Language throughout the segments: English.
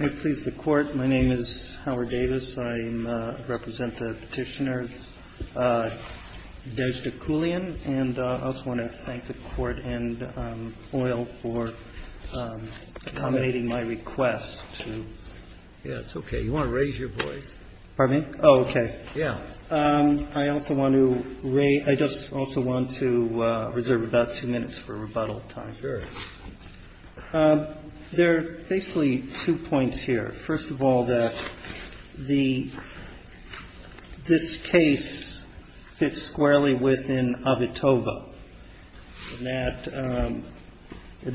I please the Court, my name is Howard Davis, I represent the Petitioner Deshda Koulian and I also want to thank the Court and OIL for accommodating my request to... Yeah, it's okay. You want to raise your voice? Pardon me? Oh, okay. Yeah. I also want to reserve about two minutes for rebuttal time. Sure. There are basically two points here. First of all, this case fits squarely within Avitoba in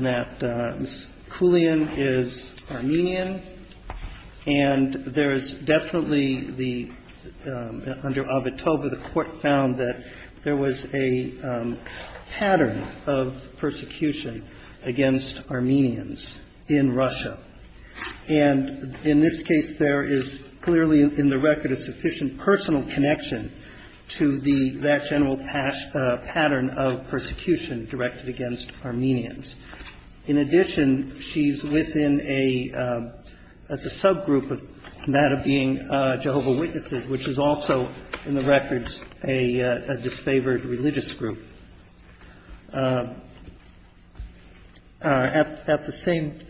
that Ms. Koulian is Armenian and there is definitely the, under Avitoba, the Court found that there was a pattern of persecution against Armenians in Russia. And in this case, there is clearly in the record a sufficient personal connection to that general pattern of persecution directed against Armenians. In addition, she's within a, as a subgroup of that of being Jehovah's Witnesses, which is also in the records a disfavored religious group. At the same,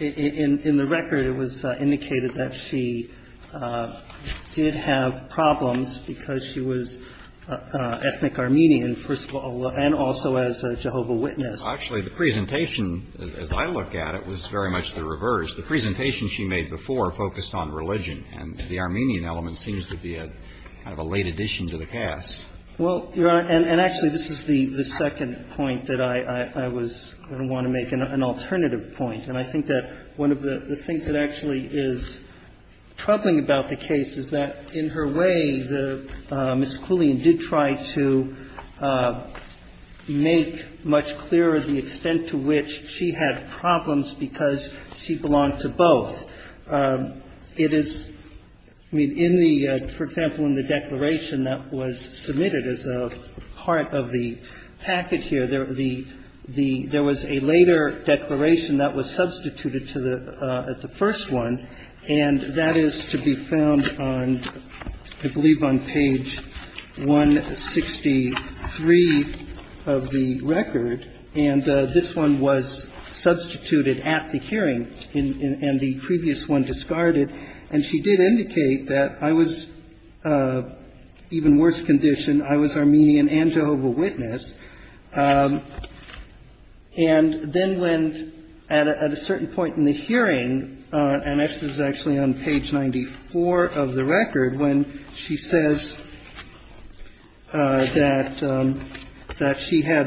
in the record it was indicated that she did have problems because she was ethnic Armenian, first of all, and also as a Jehovah's Witness. Actually, the presentation, as I look at it, was very much the reverse. The presentation she made before focused on religion, and the Armenian element seems to be a kind of a late addition to the cast. Well, Your Honor, and actually this is the second point that I was going to want to make, an alternative point. And I think that one of the things that actually is troubling about the case is that in her way, Ms. Quillian did try to make much clearer the extent to which she had problems because she belonged to both. It is, I mean, in the, for example, in the declaration that was submitted as a part of the packet here, there was a later declaration that was substituted to the first one, and that is to be found on, I believe, on page 163 of the record. And this one was substituted at the hearing, and the previous one discarded. And she did indicate that I was, even worse condition, I was Armenian and Jehovah's Witness. And then when at a certain point in the hearing, and this is actually on page 94 of the record, when she says that she had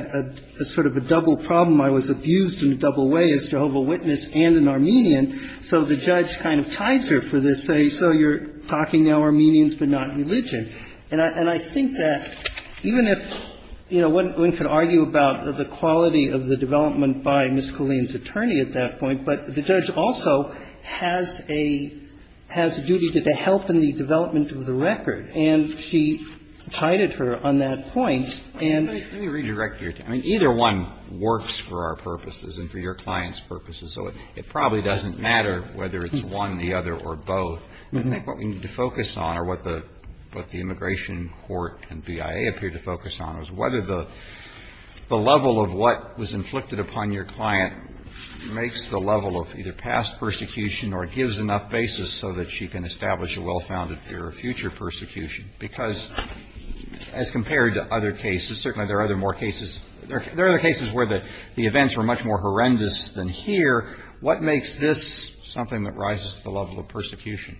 a sort of a double problem, I was abused in a double way as Jehovah's Witness and an Armenian. So the judge kind of tides her for this, saying, so you're talking now Armenians but not religion. And I think that even if, you know, one could argue about the quality of the development by Ms. Quillian's attorney at that point, but the judge also has a, has a duty to the health and the development of the record, and she tided her on that point. And the other one works for our purposes and for your clients' purposes, so it probably doesn't matter whether it's one, the other, or both. And I think what we need to focus on, or what the immigration court and BIA appear to focus on, is whether the level of what was inflicted upon your client makes the level of either past persecution or gives enough basis so that she can establish a well-founded fear of future persecution. Because as compared to other cases, certainly there are other more cases, there are other cases where the events were much more horrendous than here. What makes this something that rises to the level of persecution?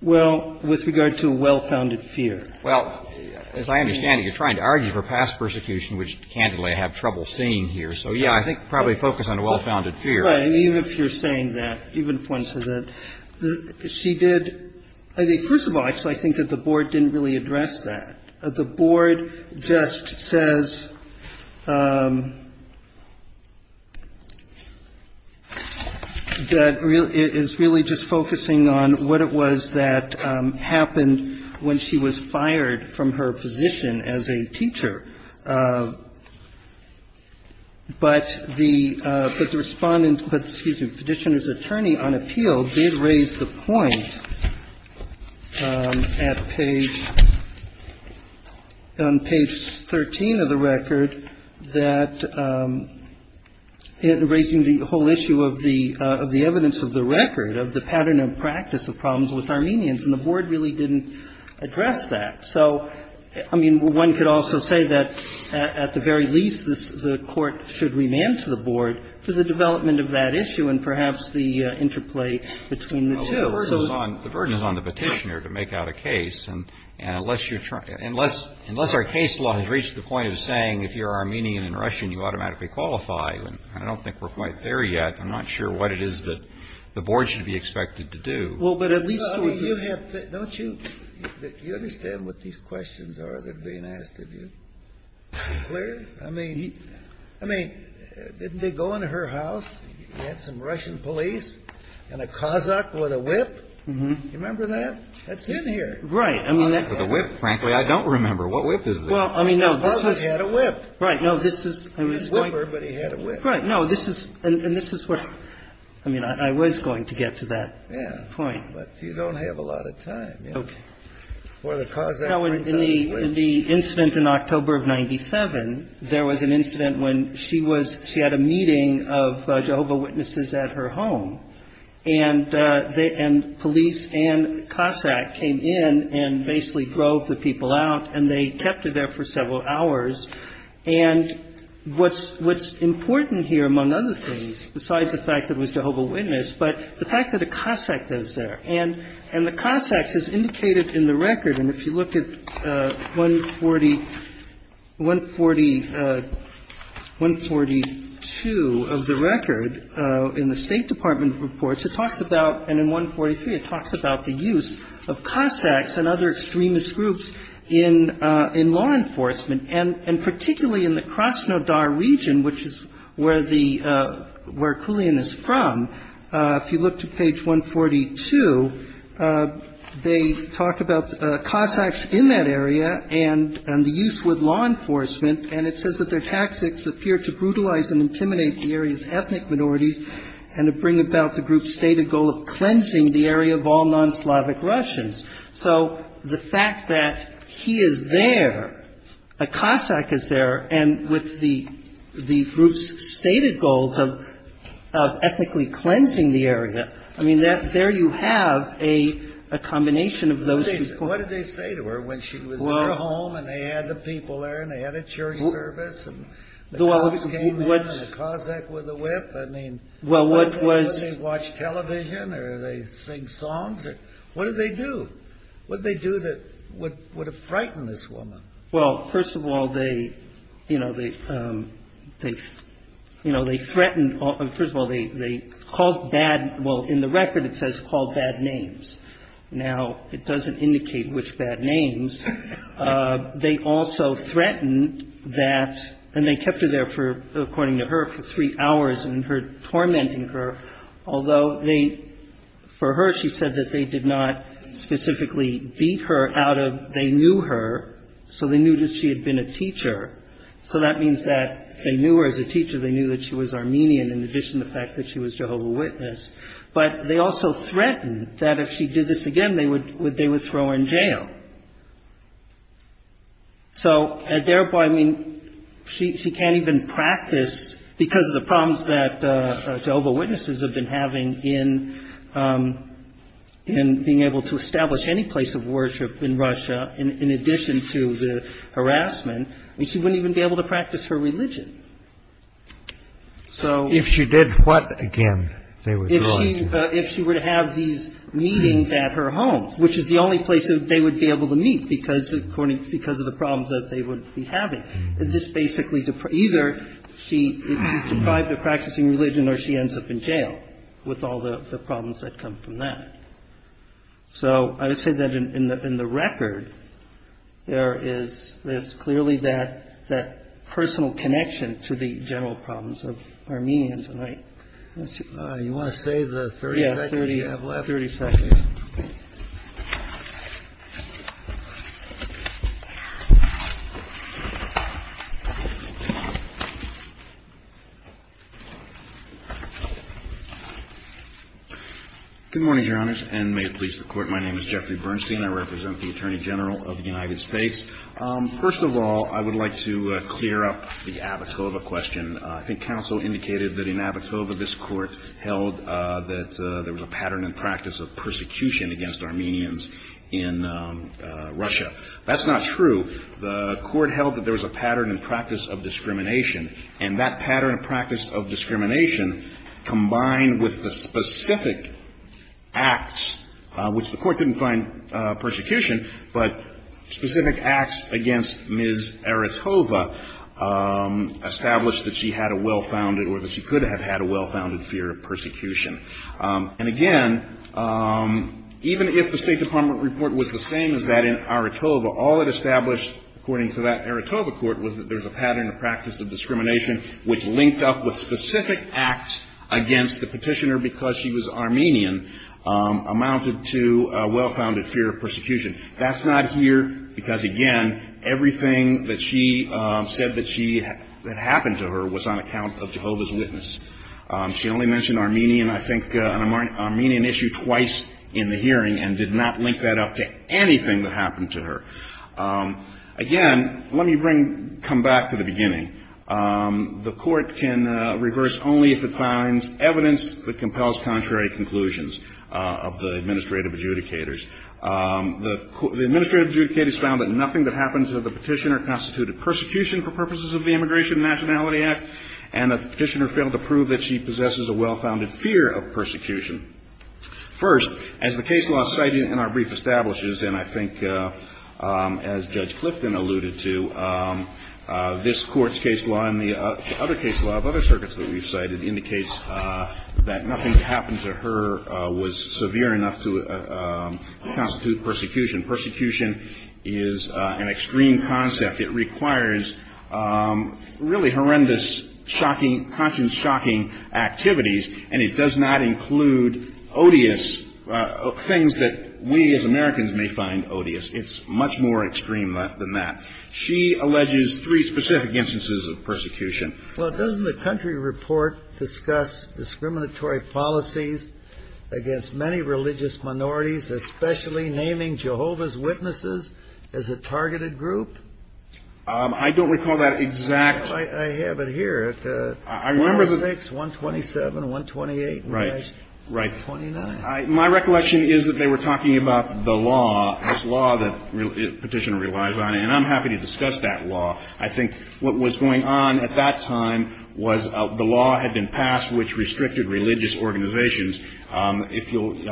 Well, with regard to a well-founded fear. Well, as I understand it, you're trying to argue for past persecution, which, candidly, I have trouble seeing here. So, yeah, I think probably focus on a well-founded fear. Right. And even if you're saying that, even if one says that, she did, I think, first of all, I think that the Board didn't really address that. The Board just says that it is really just focusing on what it was that happened when she was fired from her position as a teacher. But the Respondent's, excuse me, Petitioner's Attorney on Appeal did raise the point at page, on page 13 of the record, that raising the whole issue of the evidence of the record, of the pattern and practice of problems with Armenians. And the Board really didn't address that. So, I mean, one could also say that, at the very least, the Court should remand to the Board for the development of that issue and perhaps the interplay between the two. The burden is on the Petitioner to make out a case. And unless you're trying to, unless our case law has reached the point of saying if you're Armenian and Russian, you automatically qualify. I don't think we're quite there yet. I'm not sure what it is that the Board should be expected to do. Well, but at least we could. Don't you understand what these questions are that are being asked of you? Are you clear? I mean, didn't they go into her house? You had some Russian police and a Cossack with a whip. Do you remember that? That's in here. Right. With a whip, frankly, I don't remember. What whip is this? Well, I mean, no. Her husband had a whip. Right. No, this is. He was a whipper, but he had a whip. Right. No, this is. And this is what. I mean, I was going to get to that point. Yeah. But you don't have a lot of time. Okay. Or the Cossack brings out a whip. Well, you know, in the incident in October of 97, there was an incident when she had a meeting of Jehovah's Witnesses at her home. And police and Cossack came in and basically drove the people out, and they kept her there for several hours. And what's important here, among other things, besides the fact that it was Jehovah's Witness, but the fact that a Cossack was there. And the Cossacks, as indicated in the record, and if you look at 140, 142 of the record in the State Department reports, it talks about, and in 143, it talks about the use of Cossacks and other extremist groups in law enforcement. And particularly in the Krasnodar region, which is where the, where Kulian is from, if you look to page 142, they talk about Cossacks in that area and the use with law enforcement. And it says that their tactics appear to brutalize and intimidate the area's ethnic minorities and to bring about the group's stated goal of cleansing the area of all non-Slavic Russians. So the fact that he is there, a Cossack is there, and with the group's stated goals of ethnically cleansing the area, I mean, there you have a combination of those two. What did they say to her when she was in her home, and they had the people there, and they had a church service, and the Cossacks came in, and the Cossacks were the whip? I mean, what, did they watch television, or did they sing songs? What did they do? What did they do that would have frightened this woman? Well, first of all, they, you know, they threatened, first of all, they called bad, well, in the record, it says called bad names. Now, it doesn't indicate which bad names. They also threatened that, and they kept her there for, according to her, for three hours and her tormenting her, although they, for her, she said that they did not specifically beat her out of, they knew her, so they knew that she had been a teacher. So that means that they knew her as a teacher, they knew that she was Armenian, in addition to the fact that she was Jehovah's Witness. But they also threatened that if she did this again, they would throw her in jail. So, and therefore, I mean, she can't even practice, because of the problems that Jehovah's Witnesses have been having in, in being able to establish any place of worship in Russia, in addition to the harassment. I mean, she wouldn't even be able to practice her religion. So. If she did what again, they would throw her in jail? If she were to have these meetings at her home, which is the only place that they would be able to meet because, according, because of the problems that they would be having. This basically, either she is deprived of practicing religion or she ends up in jail with all the problems that come from that. So I would say that in the record, there is, there's clearly that, that personal connection to the general problems of Armenians. All right. You want to save the 30 seconds you have left? Yeah, 30 seconds. Okay. Good morning, Your Honors, and may it please the Court. My name is Jeffrey Bernstein. I represent the Attorney General of the United States. First of all, I would like to clear up the Abitoba question. I think counsel indicated that in Abitoba, this Court held that there was a pattern and practice of persecution against Armenians in Russia. That's not true. The Court held that there was a pattern and practice of discrimination, and that pattern and practice of discrimination, combined with the specific acts, which the Court didn't find persecution, but specific acts against Ms. Aritoba established that she had a well-founded, or that she could have had a well-founded fear of persecution. And again, even if the State Department report was the same as that in Aritoba, all it established, according to that Aritoba Court, was that there was a pattern of practice of discrimination, which linked up with specific acts against the petitioner because she was Armenian, amounted to a well-founded fear of persecution. That's not here because, again, everything that she said that happened to her was on account of Jehovah's Witness. She only mentioned Armenian, I think, an Armenian issue twice in the hearing and did not link that up to anything that happened to her. Again, let me come back to the beginning. The Court can reverse only if it finds evidence that compels contrary conclusions of the administrative adjudicators. The administrative adjudicators found that nothing that happened to the petitioner constituted persecution for purposes of the Immigration and Nationality Act and that the petitioner failed to prove that she possesses a well-founded fear of persecution. First, as the case law cited in our brief establishes, and I think as Judge Clifton alluded to, this Court's case law and the other case law of other circuits that we've cited indicates that nothing that happened to her was severe enough to constitute persecution. Persecution is an extreme concept. It requires really horrendous, shocking, conscience-shocking activities, and it does not include odious things that we as Americans may find odious. It's much more extreme than that. She alleges three specific instances of persecution. Well, doesn't the country report discuss discriminatory policies against many religious minorities, especially naming Jehovah's Witnesses as a targeted group? I don't recall that exact. I have it here. I remember that. 126, 127, 128. Right. 29. My recollection is that they were talking about the law, this law that the petitioner relies on, and I'm happy to discuss that law. I think what was going on at that time was the law had been passed which restricted religious organizations. I mean,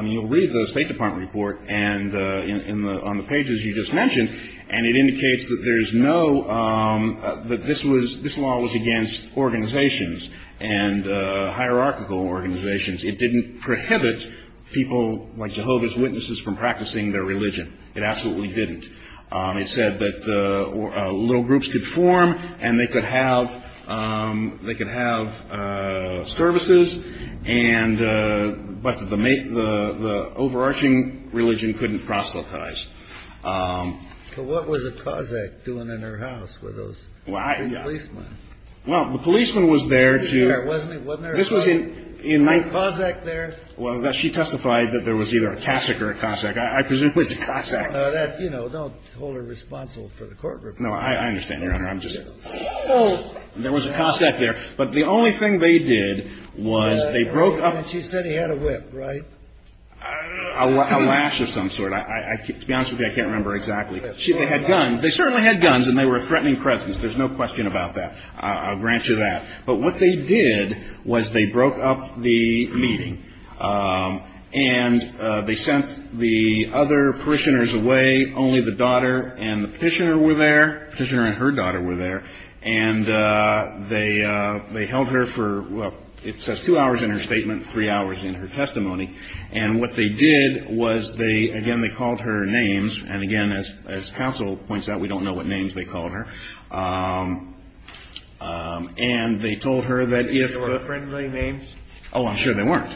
you'll read the State Department report on the pages you just mentioned, and it indicates that this law was against organizations and hierarchical organizations. It didn't prohibit people like Jehovah's Witnesses from practicing their religion. It absolutely didn't. It said that little groups could form and they could have services, but the overarching religion couldn't proselytize. So what was a Cossack doing in her house with those three policemen? Well, the policeman was there to – He was there, wasn't he? Wasn't there a Cossack there? Well, she testified that there was either a Cossack or a Cossack. I presume it was a Cossack. That, you know, don't hold her responsible for the court report. No, I understand, Your Honor. I'm just – there was a Cossack there. But the only thing they did was they broke up – She said he had a whip, right? A lash of some sort. To be honest with you, I can't remember exactly. They had guns. They certainly had guns and they were a threatening presence. There's no question about that. I'll grant you that. But what they did was they broke up the meeting and they sent the other parishioners away. Only the daughter and the petitioner were there. Petitioner and her daughter were there. And they held her for – well, it says two hours in her statement, three hours in her testimony. And what they did was they – again, they called her names. And, again, as counsel points out, we don't know what names they called her. And they told her that if – Were they friendly names? Oh, I'm sure they weren't.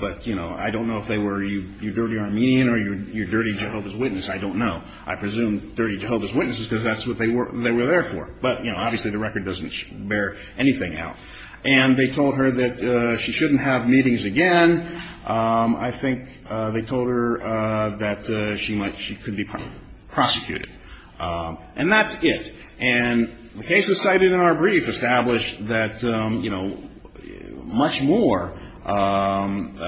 But, you know, I don't know if they were, you dirty Armenian or you dirty Jehovah's Witness. I don't know. I presume dirty Jehovah's Witnesses because that's what they were there for. But, you know, obviously the record doesn't bear anything out. And they told her that she shouldn't have meetings again. I think they told her that she might – she could be prosecuted. And that's it. And the cases cited in our brief establish that, you know, much more conduct,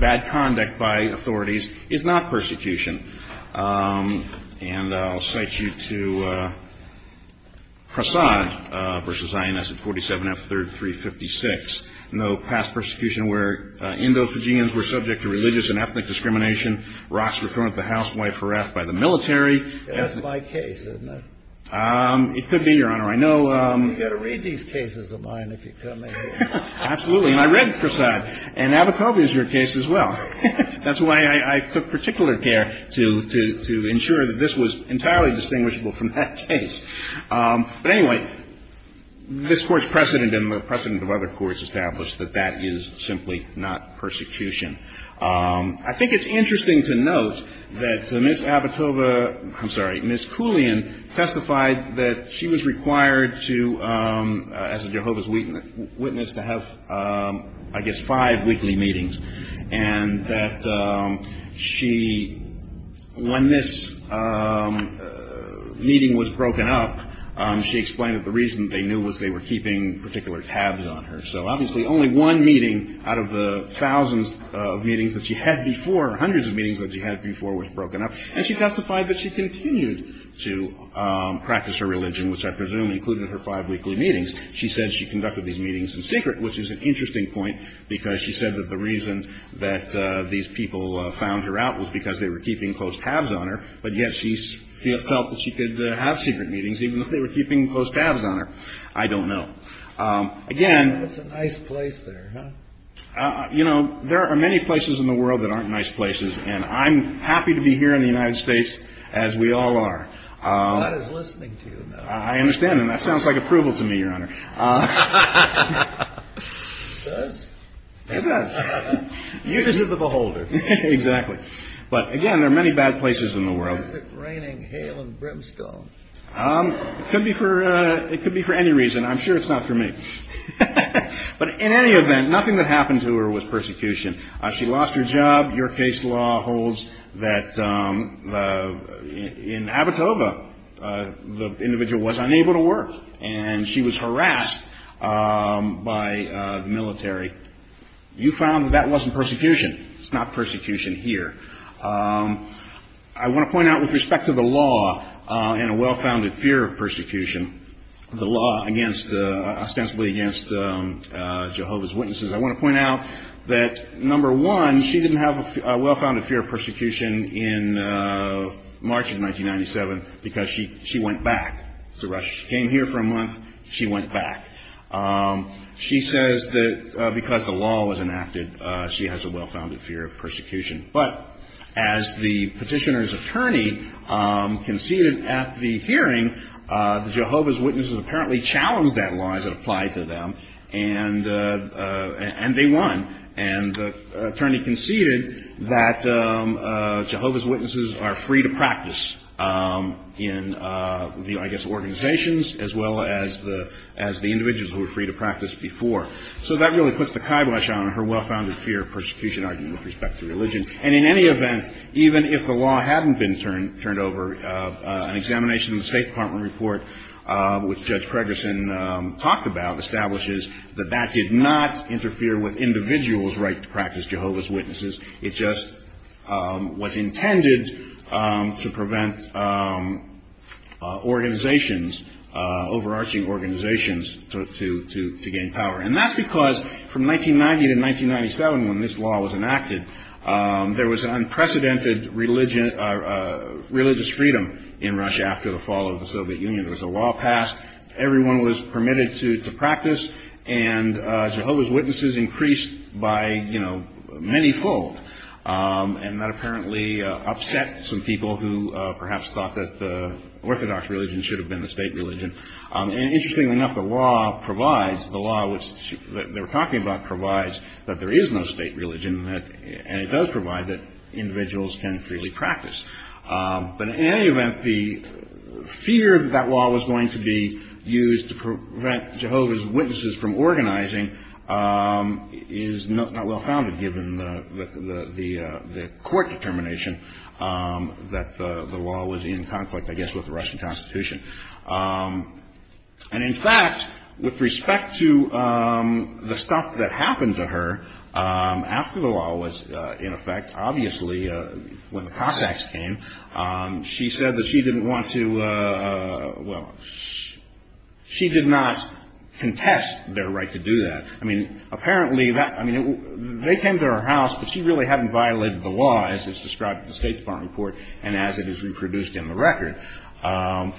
bad conduct by authorities is not persecution. And I'll cite you to Prasad v. INS at 47F, 3rd, 356. No past persecution where Indo-Fijians were subject to religious and ethnic discrimination. Rocks were thrown at the house Y4F by the military. That's my case, isn't it? It could be, Your Honor. I know – You've got to read these cases of mine if you come in here. Absolutely. And I read Prasad. And Abitobi is your case as well. That's why I took particular care to ensure that this was entirely distinguishable from that case. But, anyway, this Court's precedent and the precedent of other courts establish that that is simply not persecution. I think it's interesting to note that Ms. Abitobi – I'm sorry, Ms. Koulian testified that she was required to, as a Jehovah's Witness, to have, I guess, five weekly meetings, and that she – when this meeting was broken up, she explained that the reason they knew was they were keeping particular tabs on her. So, obviously, only one meeting out of the thousands of meetings that she had before, hundreds of meetings that she had before, was broken up. And she testified that she continued to practice her religion, which I presume included her five weekly meetings. She said she conducted these meetings in secret, which is an interesting point, because she said that the reason that these people found her out was because they were keeping close tabs on her, but yet she felt that she could have secret meetings, even if they were keeping close tabs on her. I don't know. Again – That's a nice place there, huh? You know, there are many places in the world that aren't nice places, and I'm happy to be here in the United States, as we all are. God is listening to you now. I understand, and that sounds like approval to me, Your Honor. It does? It does. You deserve a beholder. Exactly. But, again, there are many bad places in the world. Is it raining hail and brimstone? It could be for any reason. I'm sure it's not for me. But, in any event, nothing that happened to her was persecution. She lost her job. Your case law holds that in Abitoba, the individual was unable to work, and she was harassed by the military. You found that that wasn't persecution. It's not persecution here. I want to point out, with respect to the law and a well-founded fear of persecution, the law ostensibly against Jehovah's Witnesses, I want to point out that, number one, she didn't have a well-founded fear of persecution in March of 1997 because she went back to Russia. She came here for a month. She went back. She says that because the law was enacted, she has a well-founded fear of persecution. But as the petitioner's attorney conceded at the hearing, the Jehovah's Witnesses apparently challenged that law as it applied to them, and they won. And the attorney conceded that Jehovah's Witnesses are free to practice in the, I guess, organizations, as well as the individuals who were free to practice before. So that really puts the kibosh on her well-founded fear of persecution argument with respect to religion. And in any event, even if the law hadn't been turned over, an examination of the State Department report, which Judge Pregerson talked about, establishes that that did not interfere with individuals' right to practice Jehovah's Witnesses. It just was intended to prevent organizations, overarching organizations, to gain power. And that's because from 1990 to 1997, when this law was enacted, there was an unprecedented religious freedom in Russia after the fall of the Soviet Union. There was a law passed. Everyone was permitted to practice. And Jehovah's Witnesses increased by, you know, manyfold. And that apparently upset some people who perhaps thought that the Orthodox religion should have been the state religion. And interestingly enough, the law provides, the law which they were talking about provides, that there is no state religion, and it does provide that individuals can freely practice. But in any event, the fear that that law was going to be used to prevent Jehovah's Witnesses from organizing is not well-founded, given the court determination that the law was in conflict, I guess, with the Russian Constitution. And in fact, with respect to the stuff that happened to her after the law was in effect, obviously when the Cossacks came, she said that she didn't want to, well, she did not contest their right to do that. I mean, apparently that, I mean, they came to her house, but she really hadn't violated the law as is described in the State Department report and as it is reproduced in the record. And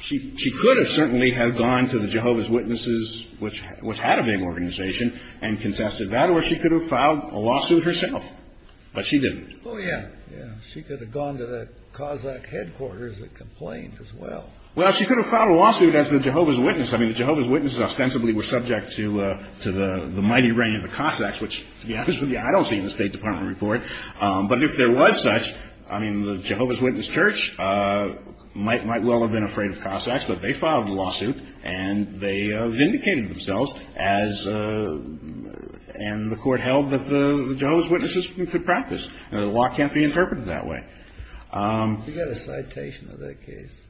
she could have certainly have gone to the Jehovah's Witnesses, which had a big organization, and contested that, or she could have filed a lawsuit herself. But she didn't. Oh, yeah, yeah. She could have gone to that Cossack headquarters and complained as well. Well, she could have filed a lawsuit as the Jehovah's Witness. I mean, the Jehovah's Witnesses ostensibly were subject to the mighty reign of the Cossacks, which to be honest with you, I don't see in the State Department report. But if there was such, I mean, the Jehovah's Witness Church might well have been afraid of Cossacks, but they filed a lawsuit and they vindicated themselves, and the Court held that the Jehovah's Witnesses could practice. The law can't be interpreted that way. You got a citation of that case?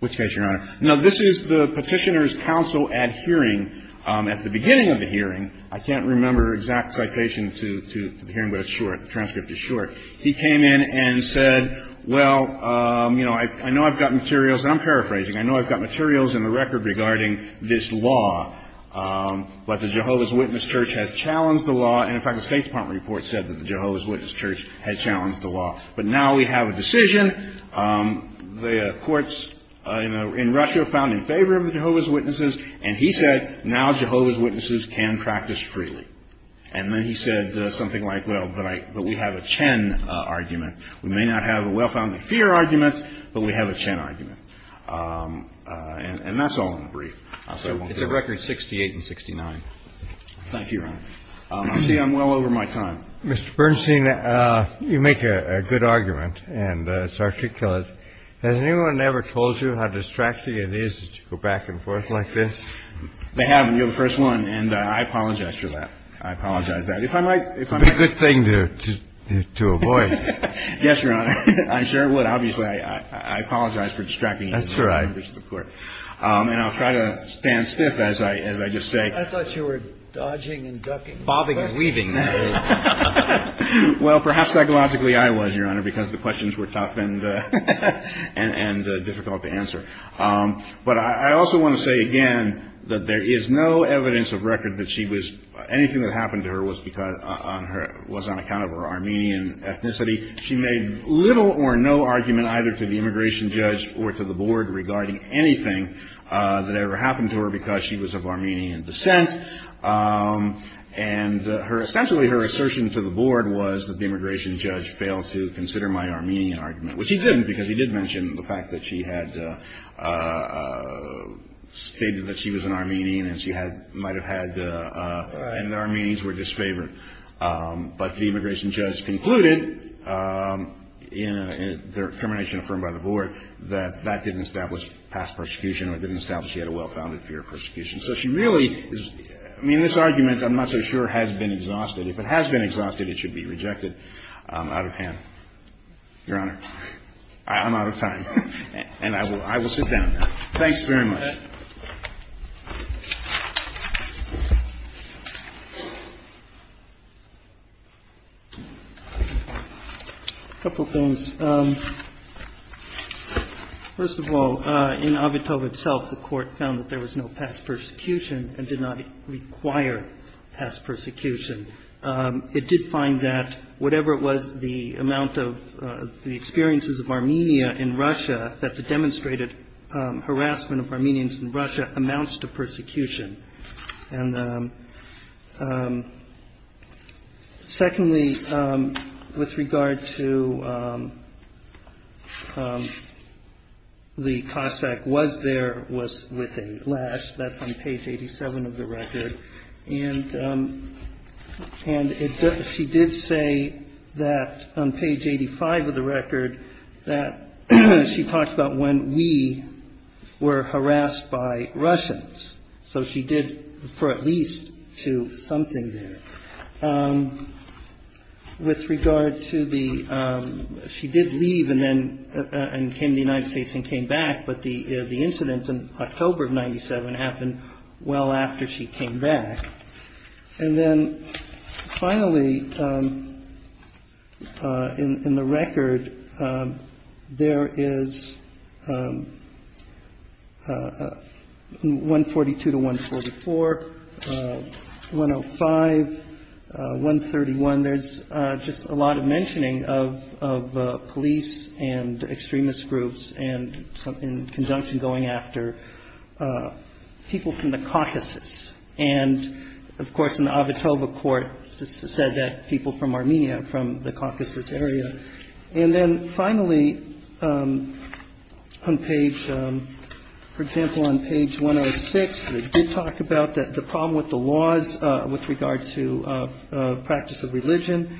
Which case, Your Honor? No, this is the Petitioner's Council ad hearing at the beginning of the hearing. I can't remember exact citation to the hearing, but it's short. The transcript is short. He came in and said, well, you know, I know I've got materials, and I'm paraphrasing, I know I've got materials in the record regarding this law, but the Jehovah's Witness Church has challenged the law, and in fact the State Department report said that the Jehovah's Witness Church had challenged the law. But now we have a decision. The courts in Russia are found in favor of the Jehovah's Witnesses, and he said, now Jehovah's Witnesses can practice freely. And then he said something like, well, but we have a Chen argument. We may not have a well-founded fear argument, but we have a Chen argument. And that's all in the brief. It's a record 68 and 69. Thank you, Your Honor. I see I'm well over my time. I was just going to ask, has anyone ever told you how distracting it is to go back and forth like this? They have. You're the first one. And I apologize for that. I apologize. That if I might, if I'm a good thing to do, to avoid. Yes, Your Honor. I'm sure it would. Obviously, I apologize for distracting. That's right. And I'll try to stand stiff as I as I just say, I thought you were dodging and ducking, bobbing and weaving. Well, perhaps psychologically, I was, Your Honor, because the questions were tough and and difficult to answer. But I also want to say again that there is no evidence of record that she was anything that happened to her was because on her was on account of her Armenian ethnicity. She made little or no argument either to the immigration judge or to the board regarding anything that ever happened to her because she was of Armenian descent. And her essentially her assertion to the board was that the immigration judge failed to consider my Armenian argument, which he didn't because he did mention the fact that she had stated that she was an Armenian and she had might have had. And the Armenians were disfavored. But the immigration judge concluded in their termination, affirmed by the board that that didn't establish past persecution or didn't establish she had a well-founded fear of persecution. So she really I mean, this argument, I'm not so sure, has been exhausted. If it has been exhausted, it should be rejected out of hand. Your Honor, I'm out of time and I will I will sit down. Thanks very much. A couple of things. First of all, in Avitov itself, the court found that there was no past persecution and did not require past persecution. It did find that whatever it was, the amount of the experiences of Armenia in Russia, that the demonstrated harassment of Armenians in Russia amounts to persecution. And secondly, with regard to the Cossack was there, was with a lash. That's on page 87 of the record. And and she did say that on page 85 of the record that she talked about when we were harassed by Russians. So she did refer at least to something there with regard to the. She did leave and then came to the United States and came back. But the incident in October of 97 happened well after she came back. And then finally, in the record, there is one forty two to one forty four, one of five, one thirty one. There's just a lot of mentioning of of police and extremist groups and something conjunction going after people from the caucuses. And of course, in the Avitov court said that people from Armenia, from the caucuses area. And then finally, on page, for example, on page one of six, we did talk about the problem with the laws with regard to practice of religion.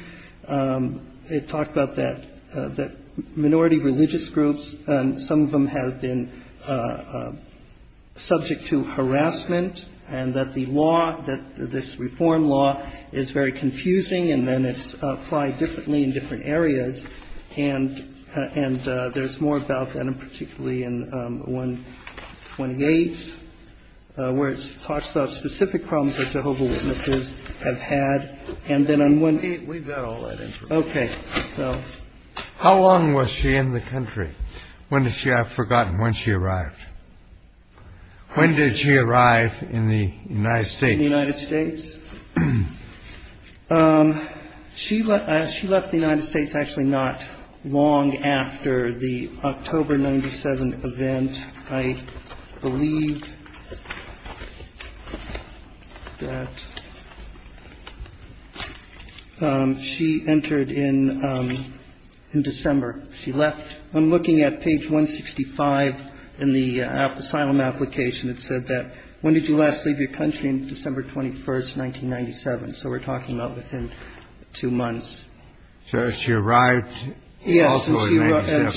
It talked about that, that minority religious groups and some of them have been subject to harassment and that the law, that this reform law is very confusing and then it's applied differently in different areas. And and there's more about that and particularly in one twenty eight where it talks about specific problems that Jehovah's Witnesses have had. And then on one day we've got all that. OK, so how long was she in the country? When did she have forgotten when she arrived? When did she arrive in the United States, the United States? She left. She left the United States actually not long after the October 97 event. I believe that she entered in in December. She left. I'm looking at page 165 in the asylum application. It said that when did you last leave your country? December 21st, 1997. So we're talking about within two months. So she arrived. Yes,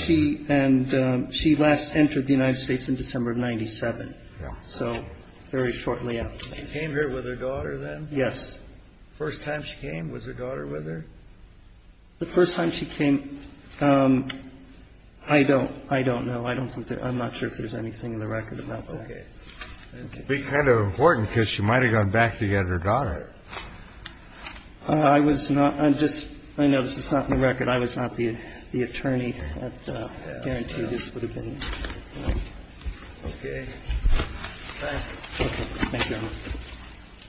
she and she last entered the United States in December of 97. So very shortly after she came here with her daughter, then. Yes. First time she came with her daughter with her. The first time she came. I don't I don't know. I don't think that I'm not sure if there's anything in the record about OK. Be kind of important because she might have gone back to get her daughter. I was not. I'm just I know this is not in the record. I was not the attorney. Guaranteed this would have been OK.